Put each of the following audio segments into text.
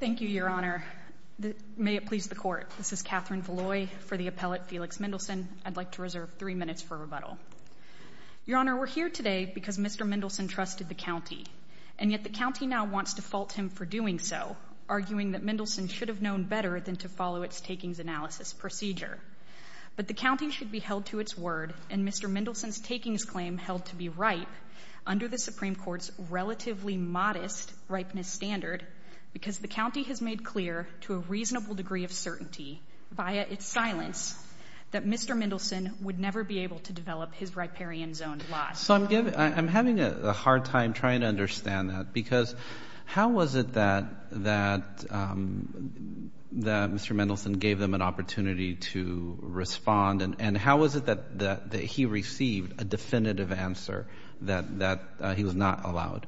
Thank you, Your Honor. May it please the Court, this is Katherine Veloy for the appellate Felix Mendelson. I'd like to reserve three minutes for rebuttal. Your Honor, we're here today because Mr. Mendelson trusted the county, and yet the county now wants to fault him for doing so, arguing that Mendelson should have known better than to follow its takings analysis procedure. But the county should be held to its word, and Mr. Mendelson's takings claim held to be ripe, under the Supreme Court's relatively modest ripeness standard, because the county has made clear, to a reasonable degree of certainty, via its silence, that Mr. Mendelson would never be able to develop his riparian zoned lot. So I'm having a hard time trying to understand that, because how was it that Mr. Mendelson gave them an opportunity to respond, and how was it that he received a definitive answer that he was not allowed?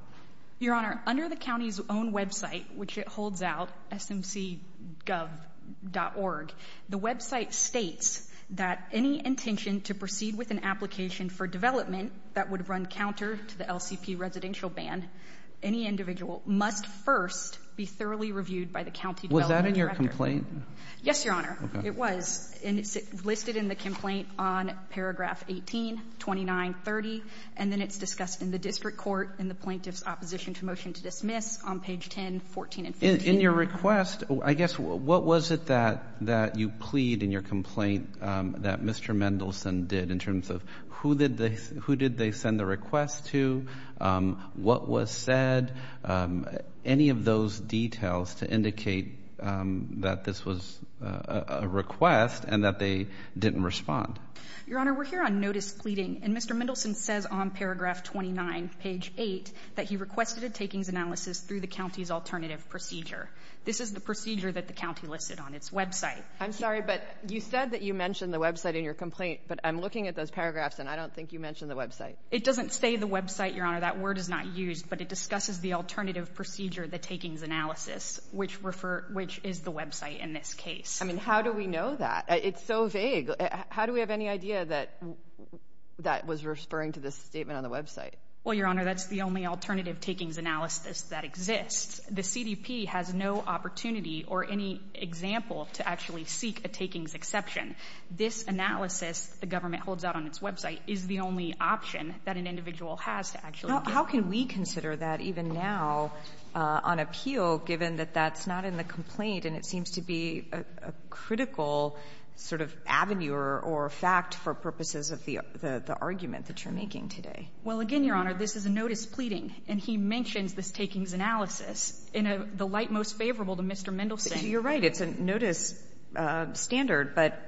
Your Honor, under the county's own website, which it holds out, smcgov.org, the website states that any intention to proceed with an application for development that would run counter to the LCP residential ban, any individual must first be thoroughly reviewed by the county development director. Was that in your complaint? Yes, Your Honor. Okay. It was. And it's listed in the complaint on paragraph 18, 2930, and then it's discussed in the district court in the plaintiff's opposition to motion to dismiss on page 10, 14 and 15. In your request, I guess, what was it that you plead in your complaint that Mr. Mendelson did, in terms of who did they send the request to, what was said, any of those details to indicate that this was a request and that they didn't respond? Your Honor, we're here on notice pleading, and Mr. Mendelson says on paragraph 29, page 8, that he requested a takings analysis through the county's alternative procedure. This is the procedure that the county listed on its website. I'm sorry, but you said that you mentioned the website in your complaint, but I'm looking at those paragraphs, and I don't think you mentioned the website. It doesn't say the website, Your Honor. That word is not used, but it discusses the alternative procedure, the takings analysis, which is the website in this case. I mean, how do we know that? It's so vague. How do we have any idea that that was referring to this statement on the website? Well, Your Honor, that's the only alternative takings analysis that exists. The CDP has no opportunity or any example to actually seek a takings exception. This analysis the government holds out on its website is the only option that an individual has to actually get one. How can we consider that even now on appeal, given that that's not in the complaint and it seems to be a critical sort of avenue or fact for purposes of the argument that you're making today? Well, again, Your Honor, this is a notice pleading, and he mentions this takings analysis in the light most favorable to Mr. Mendelson. You're right. It's a notice standard, but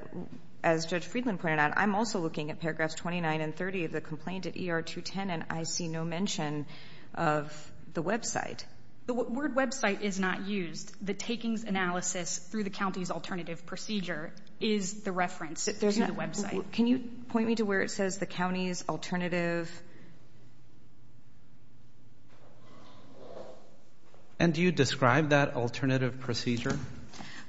as Judge Friedland pointed out, I'm also looking at paragraphs 29 and 30 of the complaint at ER 210, and I see no mention of the website. The word website is not used. The takings analysis through the county's alternative procedure is the reference to the website. Can you point me to where it says the county's alternative? And do you describe that alternative procedure?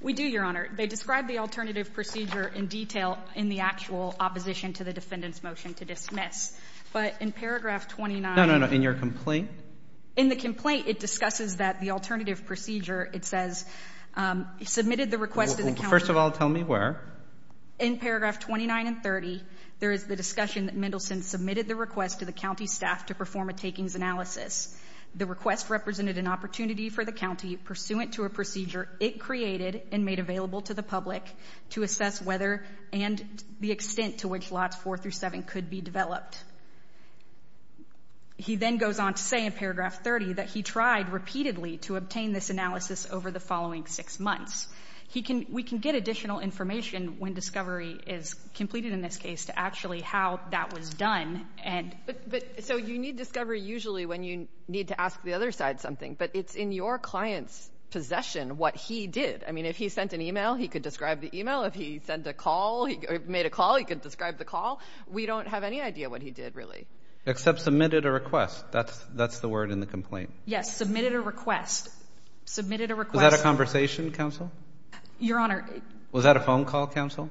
We do, Your Honor. They describe the alternative procedure in detail in the actual opposition to the defendant's motion to dismiss. But in paragraph 29 No, no, no. In your complaint? In the complaint, it discusses that the alternative procedure, it says, submitted the request to the county First of all, tell me where. In paragraph 29 and 30, there is the discussion that Mendelson submitted the request to the county staff to perform a takings analysis. The request represented an opportunity for the county pursuant to a procedure it created and made available to the public to assess whether and the extent to which slots four through seven could be developed. He then goes on to say in paragraph 30 that he tried repeatedly to obtain this analysis over the following six months. He can, we can get additional information when discovery is completed in this case to actually how that was done. But so you need discovery usually when you need to ask the other side something, but it's in your client's possession what he did. I mean, if he sent an email, he could describe the email. If he sent a call, he made a call, he could describe the call. We don't have any idea what he did really. Except submitted a request. That's the word in the complaint. Yes, submitted a request. Submitted a request. Was that a conversation, counsel? Your Honor. Was that a phone call, counsel?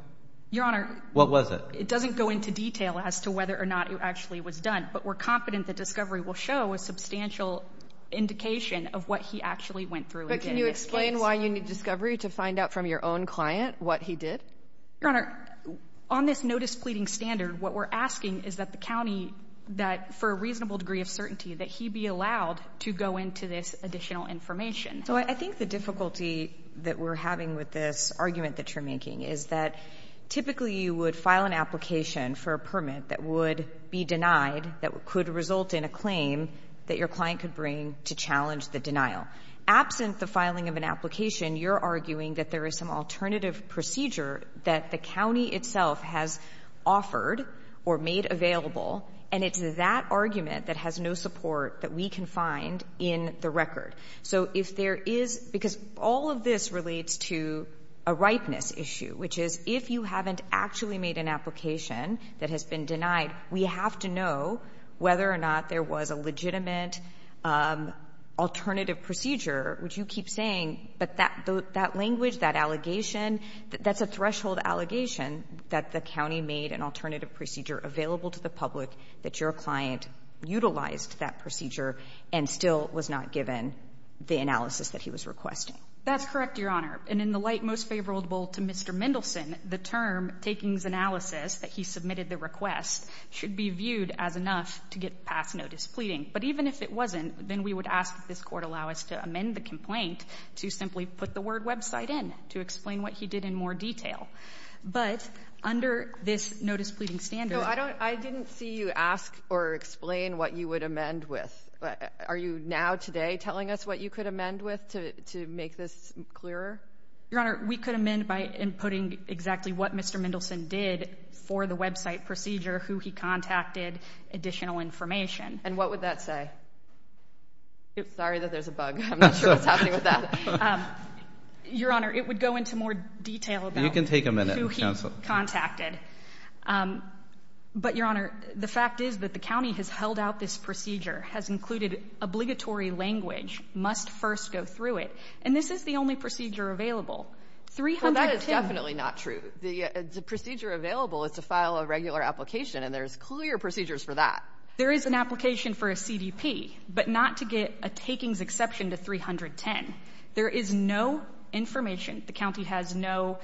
Your Honor. What was it? It doesn't go into detail as to whether or not it actually was done, but we're confident that discovery will show a substantial indication of what he actually went through in this case. But can you explain why you need discovery to find out from your own client what he did? Your Honor, on this notice pleading standard, what we're asking is that the county, that for a reasonable degree of certainty, that he be allowed to go into this additional information. So I think the difficulty that we're having with this argument that you're making is that typically you would file an application for a permit that would be denied, that could result in a claim that your client could bring to challenge the denial. Absent the filing of an application, you're arguing that there is some alternative procedure that the county itself has offered or made available, and it's that argument that has no support that we can find in the record. So if there is, because all of this relates to a ripeness issue, which is if you haven't actually made an application that has been denied, we have to know whether or not there was a legitimate alternative procedure, would you keep saying that that language, that allegation, that's a threshold allegation that the county made an alternative procedure available to the public, that your client utilized that procedure and still was not given the analysis that he was requesting? That's correct, Your Honor. And in the light most favorable to Mr. Mendelson, the term takings analysis that he submitted the request should be viewed as enough to get past notice pleading. But even if it wasn't, then we would ask if this court allow us to amend the complaint to simply put the word website in, to explain what he did in more detail. But under this notice pleading standard... So I didn't see you ask or explain what you would amend with. Are you now today telling us what you could amend with to make this clearer? Your Honor, we could amend by inputting exactly what Mr. Mendelson did for the website procedure, who he contacted, additional information. And what would that say? Sorry that there's a bug. I'm not sure what's happening with that. Your Honor, it would go into more detail about... You can take a minute, Counsel. ...who he contacted. But Your Honor, the fact is that the county has held out this procedure, has included obligatory language, must first go through it. And this is the only procedure available. Well, that is definitely not true. The procedure available is to file a regular application and there's clear procedures for that. There is an application for a CDP, but not to get a takings exception to 310. There is no information. The county has no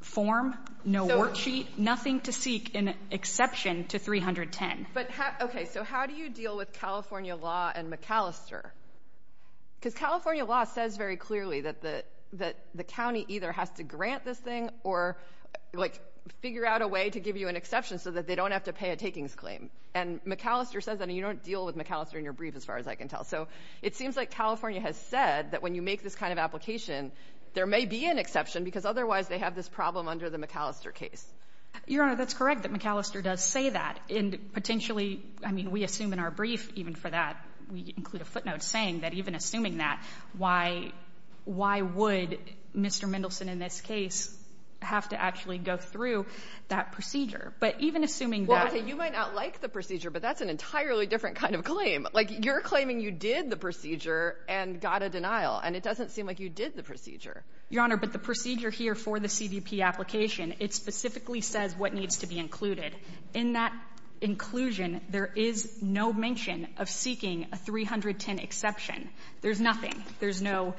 form, no worksheet, nothing to seek an exception to 310. But, okay, so how do you deal with California law and McAllister? Because California law says very clearly that the county either has to grant this thing or, like, figure out a way to give you an exception so that they don't have to pay a takings claim. And McAllister says that, and you don't deal with McAllister in your brief, as far as I can tell. So it seems like California has said that when you make this kind of application, there may be an exception because otherwise they have this problem under the McAllister case. Your Honor, that's correct that McAllister does say that. And potentially, I mean, we assume in our brief, even for that, we include a footnote saying that even assuming that, why would Mr. Mendelson in this case have to actually go through that procedure? But even assuming that — Well, okay, you might not like the procedure, but that's an entirely different kind of claim. Like, you're claiming you did the procedure and got a denial, and it doesn't seem like you did the procedure. Your Honor, but the procedure here for the CDP application, it specifically says what needs to be included. In that inclusion, there is no mention of seeking a 310 exception. There's nothing. There's no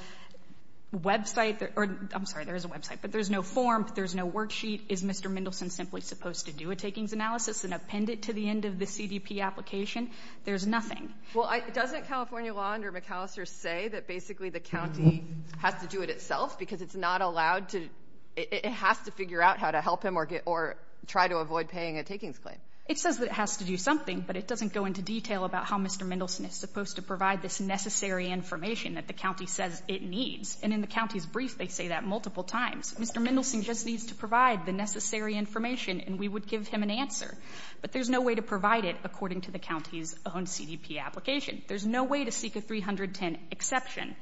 website — or, I'm sorry, there is a website, but there's no form, there's no worksheet. Is Mr. Mendelson simply supposed to do a takings analysis and append it to the end of the CDP application? There's nothing. Well, doesn't California law under McAllister say that basically the county has to do it itself because it's not allowed to — it has to figure out how to help him or try to avoid paying a takings claim? It says that it has to do something, but it doesn't go into detail about how Mr. Mendelson is supposed to provide this necessary information that the county says it needs. And in the county's brief, they say that multiple times. Mr. Mendelson just needs to provide the necessary information and we would give him an answer. But there's no way to provide it according to the county's own CDP application. There's no way to seek a 310 exception.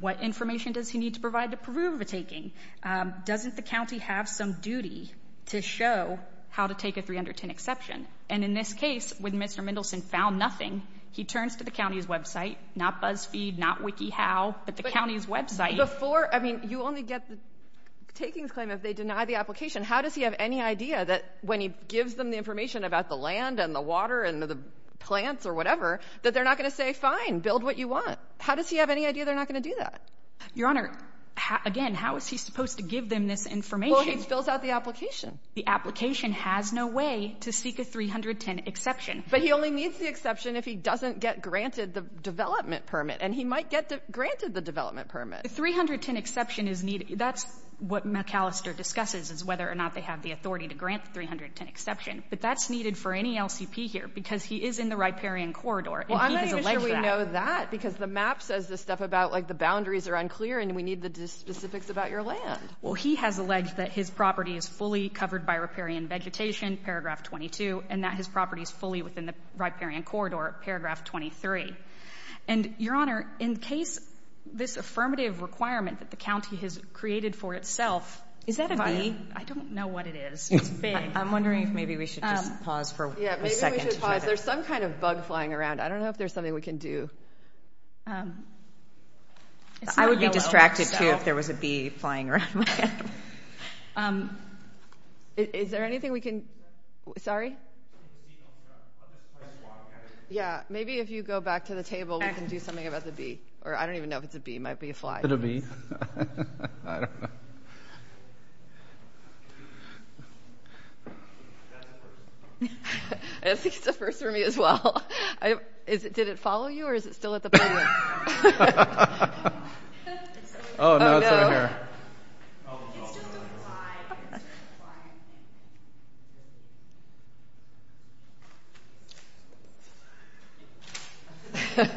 What information does he need to provide to prove a taking? Doesn't the county have some duty to show how to take a 310 exception? And in this case, when Mr. Mendelson found nothing, he turns to the county's website — not BuzzFeed, not WikiHow, but the county's website. Before — I mean, you only get the takings claim if they deny the application. How does he have any idea that when he gives them the information about the land and the water and the plants or whatever, that they're not going to say, fine, build what you want? How does he have any idea they're not going to do that? Your Honor, again, how is he supposed to give them this information? Well, he fills out the application. The application has no way to seek a 310 exception. But he only needs the exception if he doesn't get granted the development permit. And he might get granted the development permit. The 310 exception is needed — that's what McAllister discusses, is whether or not they have the authority to grant the 310 exception. But that's needed for any LCP here, because he is in the riparian corridor. Well, I'm not even sure we know that, because the map says this stuff about, like, the boundaries are unclear and we need the specifics about your land. Well, he has alleged that his property is fully covered by riparian vegetation, paragraph 22, and that his property is fully within the riparian corridor, paragraph 23. And, Your Honor, in case this affirmative requirement that the county has created for itself — Is that a bee? I don't know what it is. It's big. I'm wondering if maybe we should just pause for a second. Yeah, maybe we should pause. There's some kind of bug flying around. I don't know if there's something we can do. I would be distracted, too, if there was a bee flying around. Is there anything we can — sorry? If the bee don't drop, let this place walk at it. Yeah, maybe if you go back to the table, we can do something about the bee. Or I don't even know if it's a bee. It might be a fly. Is it a bee? I don't know. That's a first. I think it's a first for me, as well. Did it follow you, or is it still at the puzzle? Oh, no, it's over here. It's just a fly. It's just a fly.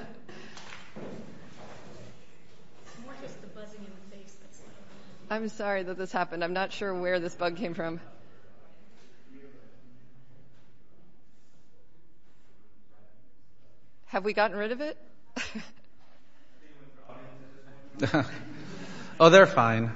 It's more just the buzzing in the face that's like — I'm sorry that this happened. I'm not sure where this bug came from. Have we gotten rid of it? Oh, they're fine.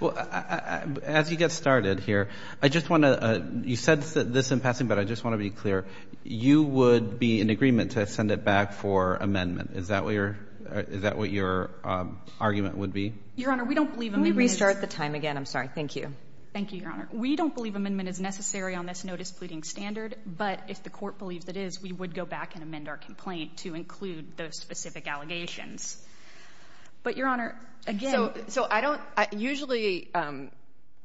Well, as you get the bug out of the way, I just want to — you said this in passing, but I just want to be clear. You would be in agreement to send it back for amendment. Is that what your argument would be? Your Honor, we don't believe — Can we restart the time again? I'm sorry. Thank you. Thank you, Your Honor. We don't believe amendment is necessary on this notice pleading standard, but if the court believes it is, we would go back and amend our complaint to include those specific allegations. But, Your Honor, again — So I don't — usually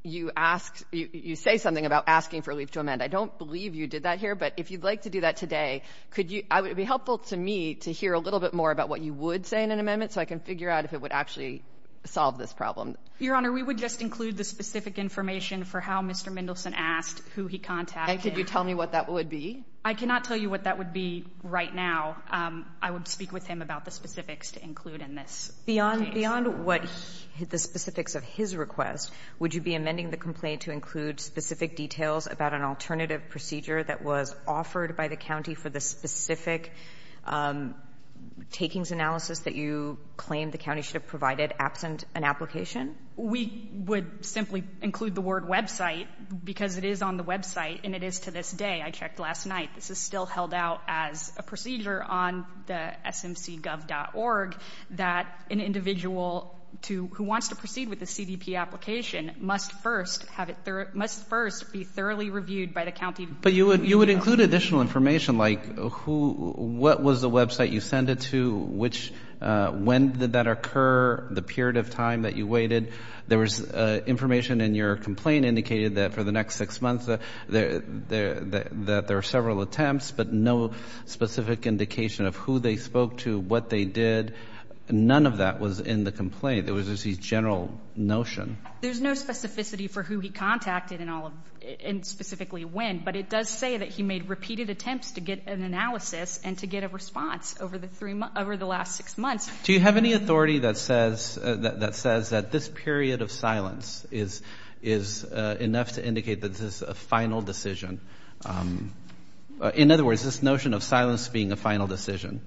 you ask — you say something about asking for a leave to amend. I don't believe you did that here, but if you'd like to do that today, could you — it would be helpful to me to hear a little bit more about what you would say in an amendment so I can figure out if it would actually solve this problem. Your Honor, we would just include the specific information for how Mr. Mendelsohn asked who he contacted. And could you tell me what that would be? I cannot tell you what that would be right now. I would speak with him about the specifics to include in this case. Beyond — beyond what he — the specifics of his request, would you be amending the complaint to include specific details about an alternative procedure that was offered by the county for the specific takings analysis that you claim the county should have provided absent an application? We would simply include the word website because it is on the website, and it is to this day. I checked last night. This is still held out as a procedure on the smcgov.org that an individual to — who wants to proceed with a CDP application must first have it — must first be thoroughly reviewed by the county. But you would — you would include additional information like who — what was the website you sent it to, which — when did that occur, the period of time that you waited. There was information in your complaint indicated that for the next six months there — that there are several attempts, but no specific indication of who they spoke to, what they did. None of that was in the complaint. It was just a general notion. There's no specificity for who he contacted and all of — and specifically when. But it does say that he made repeated attempts to get an analysis and to get a response over the three — over the last six months. Do you have any authority that says — that says that this period of silence is — is a final decision? In other words, this notion of silence being a final decision?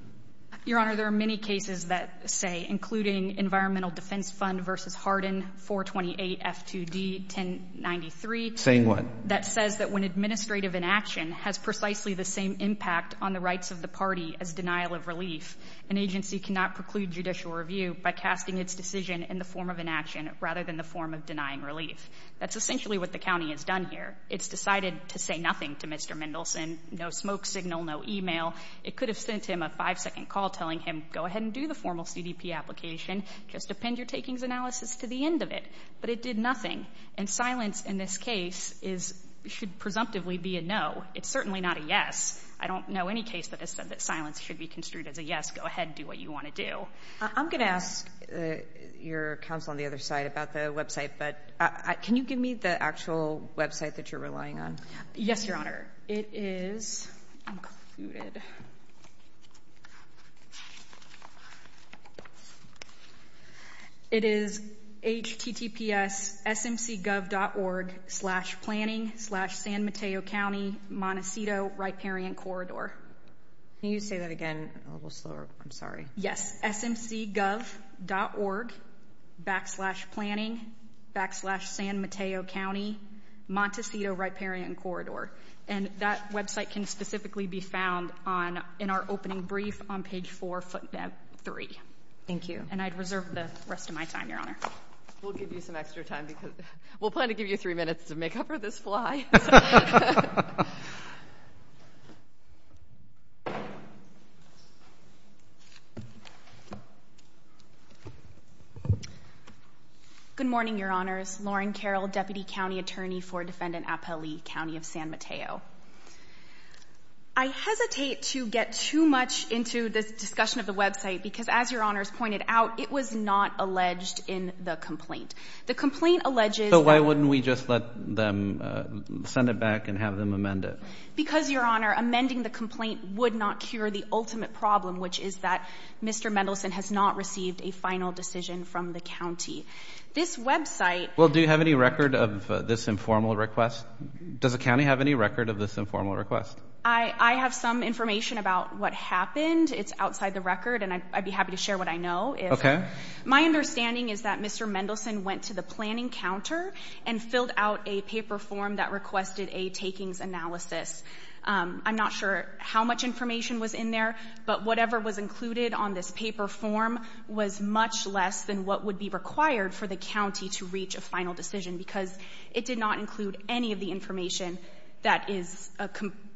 Your Honor, there are many cases that say — including Environmental Defense Fund v. Harden 428 F2D 1093 — Saying what? — that says that when administrative inaction has precisely the same impact on the rights of the party as denial of relief, an agency cannot preclude judicial review by casting its decision in the form of inaction rather than the form of denying relief. That's essentially what the county has done here. It's decided to say nothing to Mr. Mendelson. No smoke signal, no e-mail. It could have sent him a five-second call telling him, go ahead and do the formal CDP application. Just append your takings analysis to the end of it. But it did nothing. And silence in this case is — should presumptively be a no. It's certainly not a yes. I don't know any case that has said that silence should be construed as a yes. Go ahead. Do what you want to do. I'm going to ask your counsel on the other side about the website. But can you give me the actual website that you're relying on? Yes, Your Honor. It is included. It is https.smcgov.org slash planning slash San Mateo County Montecito Riparian Corridor. Can you say that again a little slower? I'm sorry. Yes. It is https.smcgov.org backslash planning backslash San Mateo County Montecito Riparian Corridor. And that website can specifically be found on — in our opening brief on page 4, footnote 3. Thank you. And I'd reserve the rest of my time, Your Honor. We'll give you some extra time because — we'll plan to give you three minutes to make up for this fly. Sorry. Good morning, Your Honors. Lauren Carroll, Deputy County Attorney for Defendant Apellee County of San Mateo. I hesitate to get too much into this discussion of the website because, as Your Honors pointed out, it was not alleged in the complaint. The complaint alleges — So why wouldn't we just let them — let them go? amend it? Because, Your Honor, amending the complaint would not cure the ultimate problem, which is that Mr. Mendelson has not received a final decision from the county. This website — Well, do you have any record of this informal request? Does the county have any record of this informal request? I have some information about what happened. It's outside the record, and I'd be happy to share what I know if — My understanding is that Mr. Mendelson went to the planning counter and filled out a paper form that requested a takings analysis. I'm not sure how much information was in there, but whatever was included on this paper form was much less than what would be required for the county to reach a final decision because it did not include any of the information that is —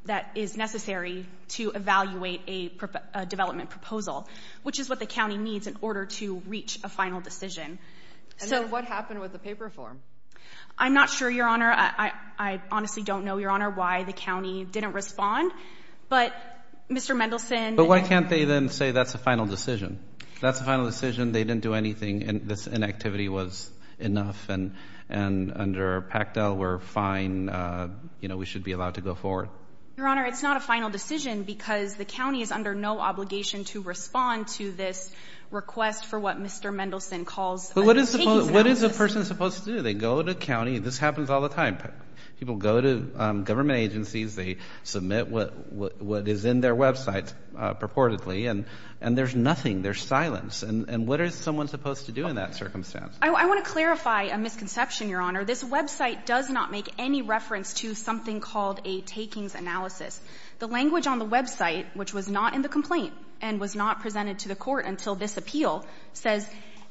that is necessary to evaluate a development proposal, which is what the county needs in order to reach a final decision. And then what happened with the paper form? I'm not sure, Your Honor. I honestly don't know, Your Honor, why the county didn't respond. But Mr. Mendelson — But why can't they then say that's a final decision? That's a final decision. They didn't do anything. This inactivity was enough. And under PACTEL, we're fine. You know, we should be allowed to go forward. Your Honor, it's not a final decision because the county is under no obligation to respond to this request for what Mr. Mendelson calls a takings analysis. But what is a person supposed to do? They go to county. This happens all the time. People go to government agencies. They submit what is in their website purportedly, and there's nothing. There's silence. And what is someone supposed to do in that circumstance? I want to clarify a misconception, Your Honor. This website does not make any reference to something called a takings analysis. The language on the website, which was not in the complaint and was not presented to the court until this appeal, says,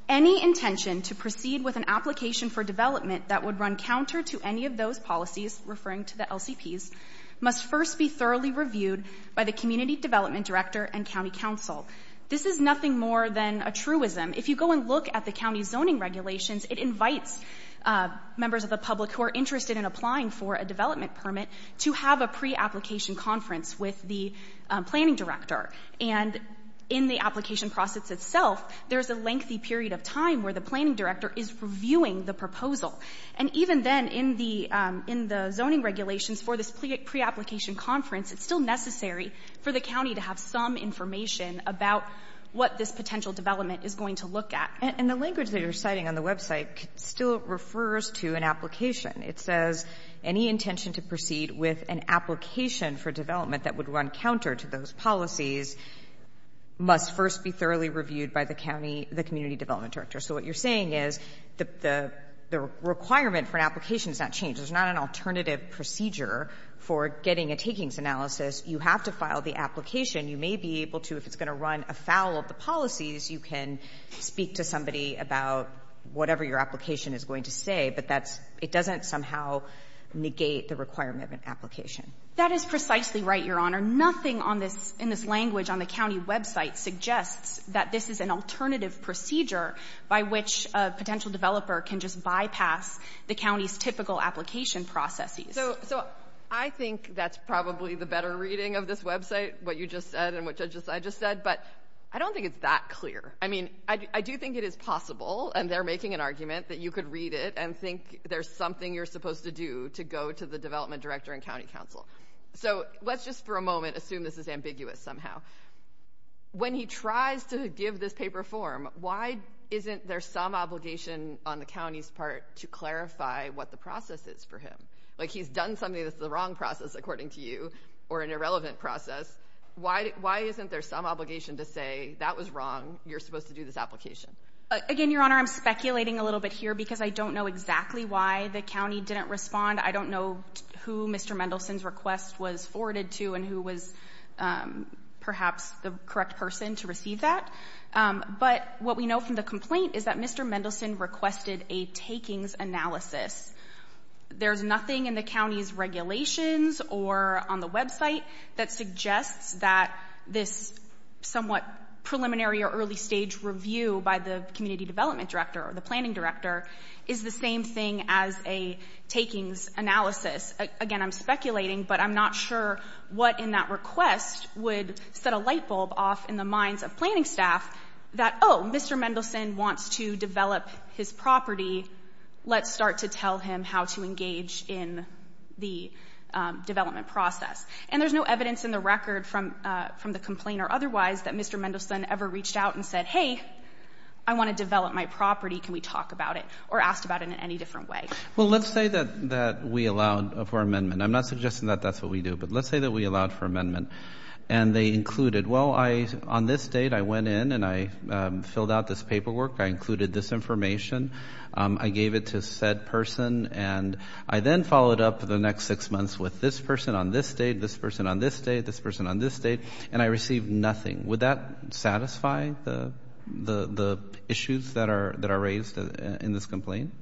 Any intention to proceed with an application for development that would run counter to any of those policies, referring to the LCPs, must first be thoroughly reviewed by the community development director and county council. This is nothing more than a truism. If you go and look at the county zoning regulations, it invites members of the public who are interested in applying for a development permit to have a pre-application conference with the planning director. And in the application process itself, there's a lengthy period of time where the planning director is reviewing the proposal. And even then, in the zoning regulations for this pre-application conference, it's still necessary for the county to have some information about what this potential development is going to look at. And the language that you're citing on the website still refers to an application. It says, Any intention to proceed with an application for development that would run counter to those policies must first be thoroughly reviewed by the community development director. So what you're saying is the requirement for an application is not changed. There's not an alternative procedure for getting a takings analysis. You have to file the application. You may be able to, if it's going to run afoul of the policies, you can speak to somebody about whatever your application is going to say, but it doesn't somehow negate the requirement of an application. That is precisely right, Your Honor. Nothing in this language on the county website suggests that this is an alternative procedure by which a potential developer can just bypass the county's typical application processes. So I think that's probably the better reading of this website, what you just said and what I just said. But I don't think it's that clear. I mean, I do think it is possible, and they're making an argument, that you could read it and think there's something you're supposed to do to go to the development director and county counsel. So let's just for a moment assume this is ambiguous somehow. When he tries to give this paper form, why isn't there some obligation on the county's part to clarify what the process is for him? Like, he's done something that's the wrong process, according to you, or an irrelevant process. Why isn't there some obligation to say, that was wrong, you're supposed to do this application? Again, Your Honor, I'm speculating a little bit here because I don't know exactly why the county didn't respond. I don't know who Mr. Mendelson's request was forwarded to and who was perhaps the correct person to receive that. But what we know from the complaint is that Mr. Mendelson requested a takings analysis. There's nothing in the county's regulations or on the website that suggests that this somewhat preliminary or early stage review by the community development director or the Again, I'm speculating, but I'm not sure what in that request would set a lightbulb off in the minds of planning staff that, oh, Mr. Mendelson wants to develop his property, let's start to tell him how to engage in the development process. And there's no evidence in the record from the complaint or otherwise that Mr. Mendelson ever reached out and said, hey, I want to develop my property, can we talk about it or asked about it in any different way. Well, let's say that we allowed for amendment. I'm not suggesting that that's what we do, but let's say that we allowed for amendment and they included, well, on this date I went in and I filled out this paperwork, I included this information, I gave it to said person, and I then followed up the next six months with this person on this date, this person on this date, this person on this date, and I received nothing. Would that satisfy the issues that are raised in this complaint?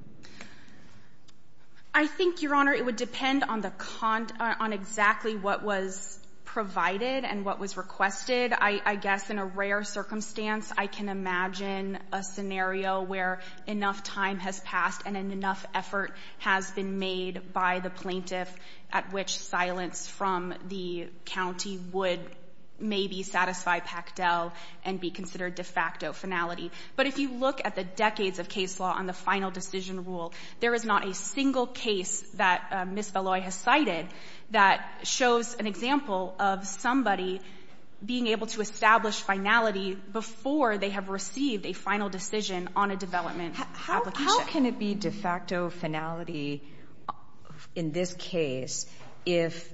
I think, Your Honor, it would depend on exactly what was provided and what was requested. I guess in a rare circumstance, I can imagine a scenario where enough time has passed and enough effort has been made by the plaintiff at which silence from the county would maybe satisfy Pactel and be considered de facto finality. But if you look at the decades of case law on the final decision rule, there is not a single case that Ms. Valoi has cited that shows an example of somebody being able to establish finality before they have received a final decision on a development application. How can it be de facto finality in this case if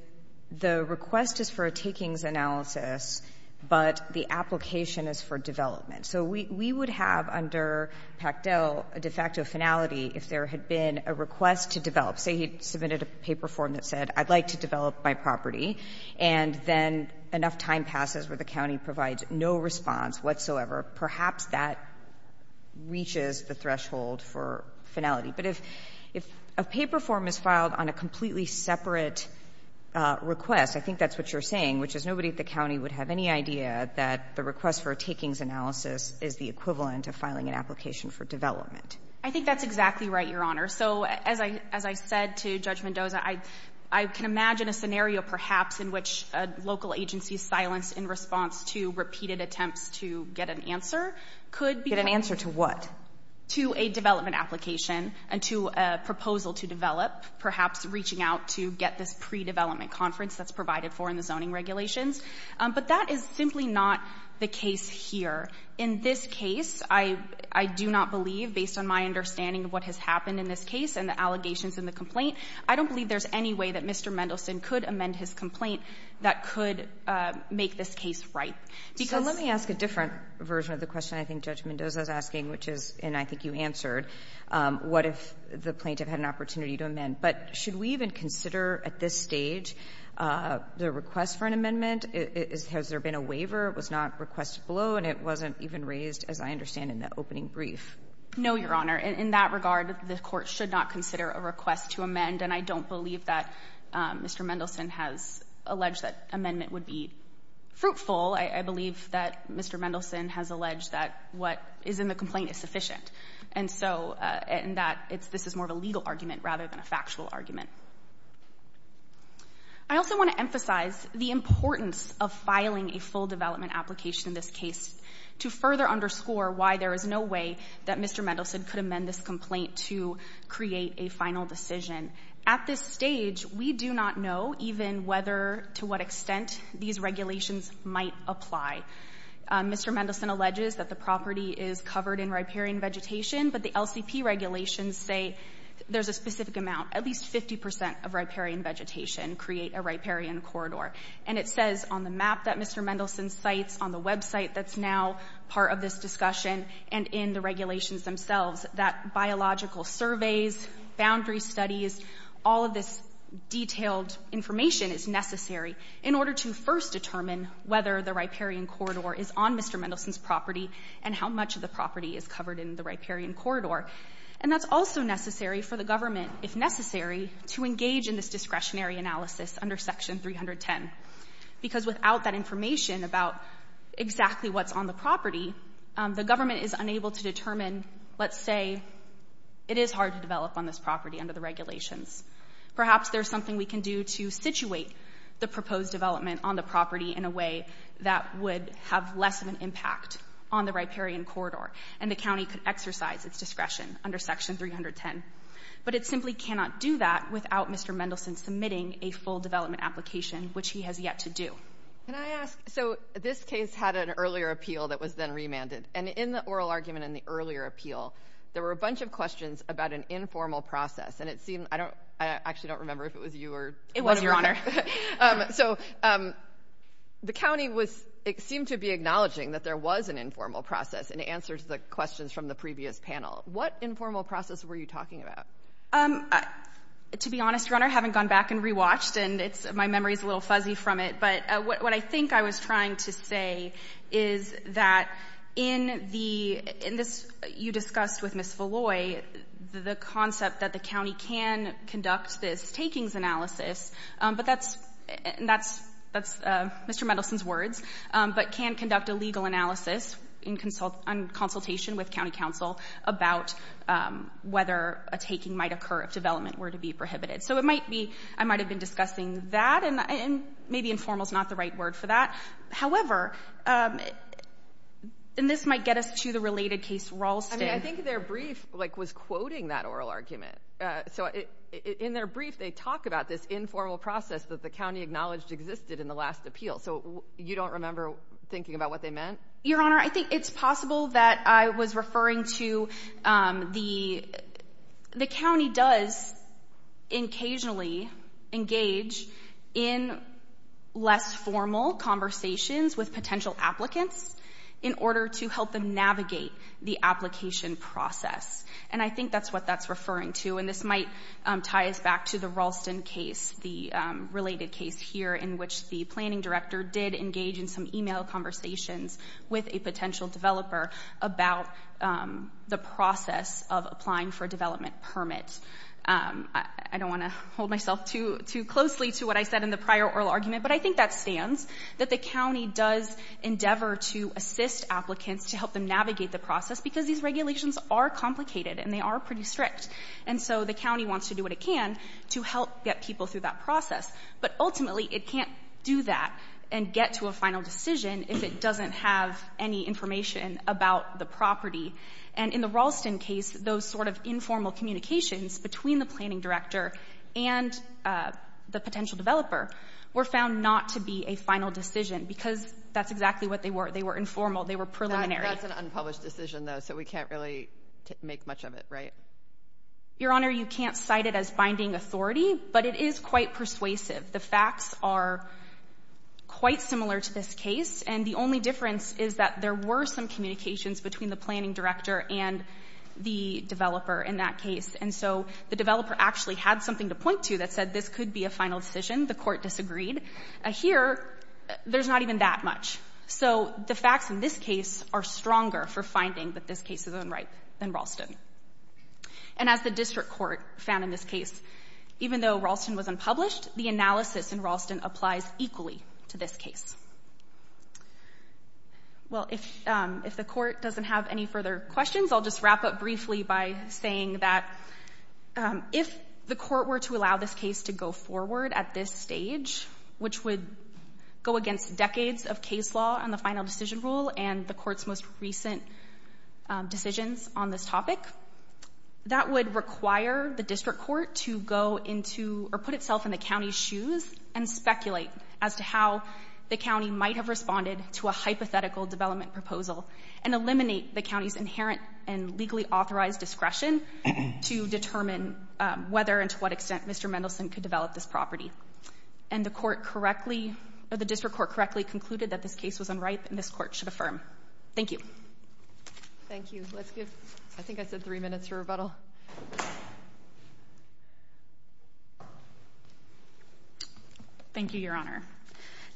the request is for a takings analysis but the application is for development? So we would have under Pactel a de facto finality if there had been a request to develop. Say he submitted a paper form that said, I'd like to develop my property, and then enough time passes where the county provides no response whatsoever. Perhaps that reaches the threshold for finality. But if a paper form is filed on a completely separate request, I think that's what you're saying, which is nobody at the county would have any idea that the request for a takings analysis is the equivalent of filing an application for development. I think that's exactly right, Your Honor. So as I said to Judge Mendoza, I can imagine a scenario perhaps in which a local agency's silence in response to repeated attempts to get an answer could be an answer to what? To a development application and to a proposal to develop, perhaps reaching out to get this pre-development conference that's provided for in the zoning regulations. But that is simply not the case here. In this case, I do not believe, based on my understanding of what has happened in this case and the allegations in the complaint, I don't believe there's any way that Mr. Mendelson could amend his complaint that could make this case right. Because — So let me ask a different version of the question I think Judge Mendoza is asking, which is, and I think you answered, what if the plaintiff had an opportunity to amend? But should we even consider at this stage the request for an amendment? Has there been a waiver? It was not requested below, and it wasn't even raised, as I understand, in the opening brief. No, Your Honor. In that regard, the Court should not consider a request to amend. And I don't believe that Mr. Mendelson has alleged that amendment would be fruitful. I believe that Mr. Mendelson has alleged that what is in the complaint is sufficient, and that this is more of a legal argument rather than a factual argument. I also want to emphasize the importance of filing a full development application in this case to further underscore why there is no way that Mr. Mendelson could amend this complaint to create a final decision. At this stage, we do not know even whether, to what extent, these regulations might apply. Mr. Mendelson alleges that the property is covered in riparian vegetation, but the LCP regulations say there's a specific amount, at least 50 percent of riparian vegetation create a riparian corridor. And it says on the map that Mr. Mendelson cites, on the website that's now part of this discussion and in the regulations themselves, that biological surveys, boundary studies, all of this detailed information is necessary in order to first determine whether the riparian corridor is on Mr. Mendelson's property and how much of the property is covered in the riparian corridor. And that's also necessary for the government, if necessary, to engage in this discretionary analysis under Section 310, because without that information about exactly what's on the property, the government is unable to determine, let's say, it is hard to develop on this property under the regulations. Perhaps there's something we can do to situate the proposed development on the property in a way that would have less of an impact on the riparian corridor, and the county could exercise its discretion under Section 310. But it simply cannot do that without Mr. Mendelson submitting a full development application, which he has yet to do. Can I ask, so this case had an earlier appeal that was then remanded, and in the oral argument in the earlier appeal, there were a bunch of questions about an informal process, and it seemed, I don't, I actually don't remember if it was you or It was, Your Honor. So the county was, it seemed to be acknowledging that there was an informal process in answer to the questions from the previous panel. What informal process were you talking about? To be honest, Your Honor, I haven't gone back and rewatched, and it's, my memory's a little fuzzy, but what I think I was trying to say is that in the, in this, you discussed with Ms. Villoy, the concept that the county can conduct this takings analysis, but that's, and that's, that's Mr. Mendelson's words, but can conduct a legal analysis in consultation with county counsel about whether a taking might occur if development were to be prohibited. So it might be, I might have been discussing that, and maybe informal's not the right word for that. However, and this might get us to the related case, Raulston. I mean, I think their brief, like, was quoting that oral argument. So in their brief, they talk about this informal process that the county acknowledged existed in the last appeal. So you don't remember thinking about what they meant? Your Honor, I think it's possible that I was referring to the, the county does occasionally engage in less formal conversations with potential applicants in order to help them navigate the application process. And I think that's what that's referring to. And this might tie us back to the Raulston case, the related case here in which the planning director did engage in some email conversations with a potential developer about the process of applying for a development permit. I don't want to hold myself too closely to what I said in the prior oral argument, but I think that stands, that the county does endeavor to assist applicants to help them navigate the process because these regulations are complicated and they are pretty strict. And so the county wants to do what it can to help get people through that process. But ultimately, it can't do that and get to a final decision if it doesn't have any information about the property. And in the Raulston case, those sort of informal communications between the planning director and the potential developer were found not to be a final decision because that's exactly what they were. They were informal. They were preliminary. That's an unpublished decision, though, so we can't really make much of it, right? Your Honor, you can't cite it as binding authority, but it is quite persuasive. The facts are quite similar to this case, and the only difference is that there were some communications between the planning director and the developer in that case. And so the developer actually had something to point to that said this could be a final decision. The court disagreed. Here, there's not even that much. So the facts in this case are stronger for finding that this case is unripe than Raulston. And as the district court found in this case, even though Raulston was unpublished, the analysis in Raulston applies equally to this case. Well, if the court doesn't have any further questions, I'll just wrap up briefly by saying that if the court were to allow this case to go forward at this stage, which would go against decades of case law on the final decision rule and the court's most recent decisions on this topic, that would require the district court to go into or put itself in the county's shoes and speculate as to how the county might have responded to a hypothetical development proposal and eliminate the county's inherent and legally authorized discretion to determine whether and to what extent Mr. Mendelson could develop this property. And the court correctly or the district court correctly concluded that this case was unripe and this court should affirm. Thank you. Thank you. Let's give, I think I said three minutes to rebuttal. Thank you, Your Honor.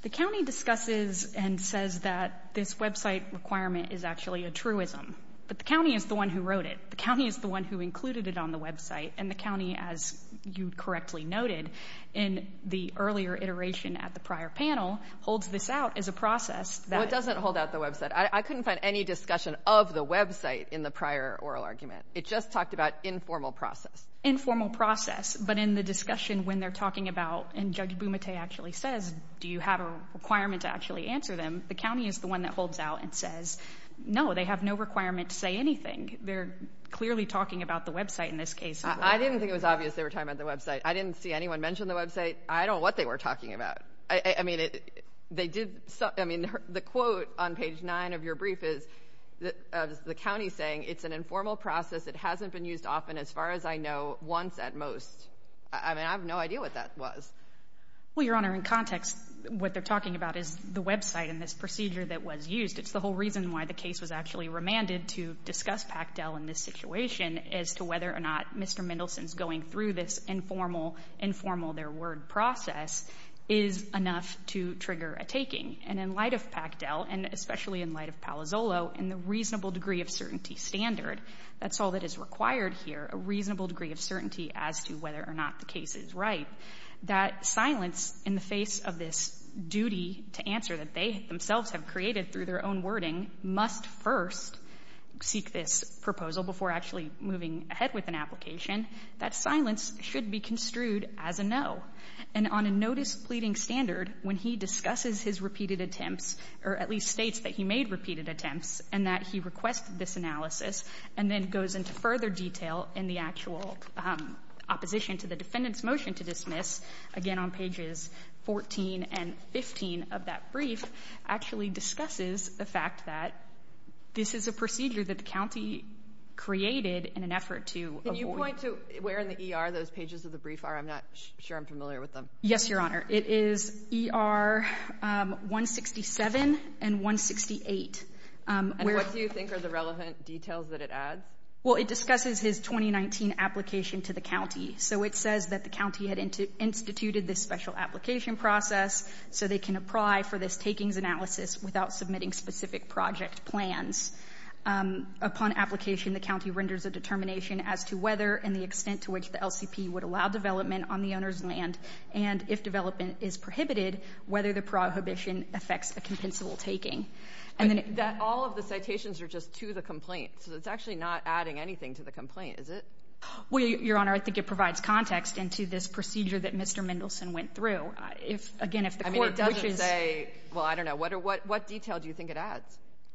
The county discusses and says that this website requirement is actually a truism. But the county is the one who wrote it. The county is the one who included it on the website. And the county, as you correctly noted in the earlier iteration at the prior panel, holds this out as a process that Well, it doesn't hold out the website. I couldn't find any discussion of the website in the prior oral argument. It just talked about informal process. Informal process. But in the discussion when they're talking about, and Judge Bumate actually says, do you have a requirement to actually answer them? The county is the one that holds out and says, no, they have no requirement to say anything. They're clearly talking about the website in this case. I didn't think it was obvious they were talking about the website. I didn't see anyone mention the website. I don't know what they were talking about. I mean, they did. I mean, the quote on page nine of your brief is the county saying it's an informal process. It hasn't been used often, as far as I know, once at most. I mean, I have no idea what that was. Well, Your Honor, in context, what they're talking about is the website and this procedure that was used. It's the whole reason why the case was actually remanded to discuss PACTEL in this situation as to whether or not Mr. Mendelson's going through this informal, informal their word process is enough to trigger a taking. And in light of PACTEL, and especially in light of Palazzolo, in the reasonable degree of certainty standard, that's all that is required here, a reasonable degree of certainty as to whether or not the case is right, that silence in the face of this duty to answer that they themselves have created through their own wording must first seek this proposal before actually moving ahead with an application, that silence should be construed as a no. And on a no-displeading standard, when he discusses his repeated attempts, or at least states that he made repeated attempts and that he requested this analysis and then goes into further detail in the actual opposition to the defendant's motion to dismiss, again on pages 14 and 15 of that brief, actually discusses the fact that this is a procedure that the county created in an effort to avoid... Can you point to where in the ER those pages of the brief are? I'm not sure I'm familiar with them. Yes, Your Honor. It is ER 167 and 168. And what do you think are the relevant details that it adds? Well, it discusses his 2019 application to the county. So it says that the county had instituted this special application process so they can apply for this takings analysis without submitting specific project plans. Upon application, the county renders a determination as to whether and the extent to which the LCP would allow development on the owner's land and, if development is prohibited, whether the prohibition affects a compensable taking. But all of the citations are just to the complaint, so it's actually not adding anything to the complaint, is it? Well, Your Honor, I think it provides context into this procedure that Mr. Mendelson went through. If, again, if the court... I mean, it doesn't say... Well, I don't know. What detail do you think it adds?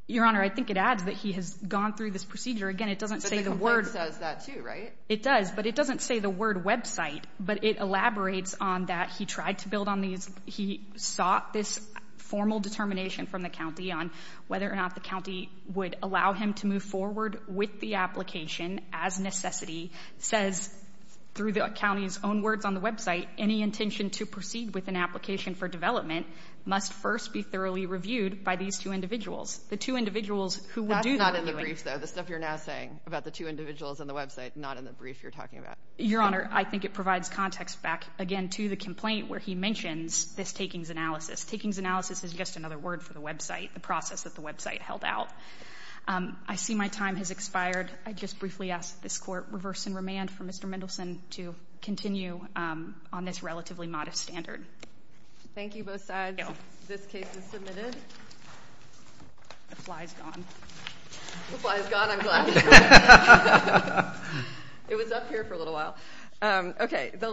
Your Honor, I think it adds that he has gone through this procedure. Again, it doesn't say the word... But the word says that, too, right? It does, but it doesn't say the word website. But it elaborates on that he tried to build on these... He sought this formal determination from the county on whether or not the county would allow him to move forward with the application as necessity, says, through the county's own words on the website, any intention to proceed with an application for development must first be thoroughly reviewed by these two individuals. The two individuals who would do the reviewing... That's not in the brief, though. The stuff you're now saying about the two individuals on the website, not in the brief you're talking about. Your Honor, I think it provides context back, again, to the complaint where he mentions this takings analysis. Takings analysis is just another word for the website, the process that the website held out. I see my time has expired. I just briefly ask that this Court reverse and remand for Mr. Mendelson to continue on this relatively modest standard. Thank you, both sides. This case is submitted. The fly's gone. The fly's gone, I'm glad. It was up here for a little while.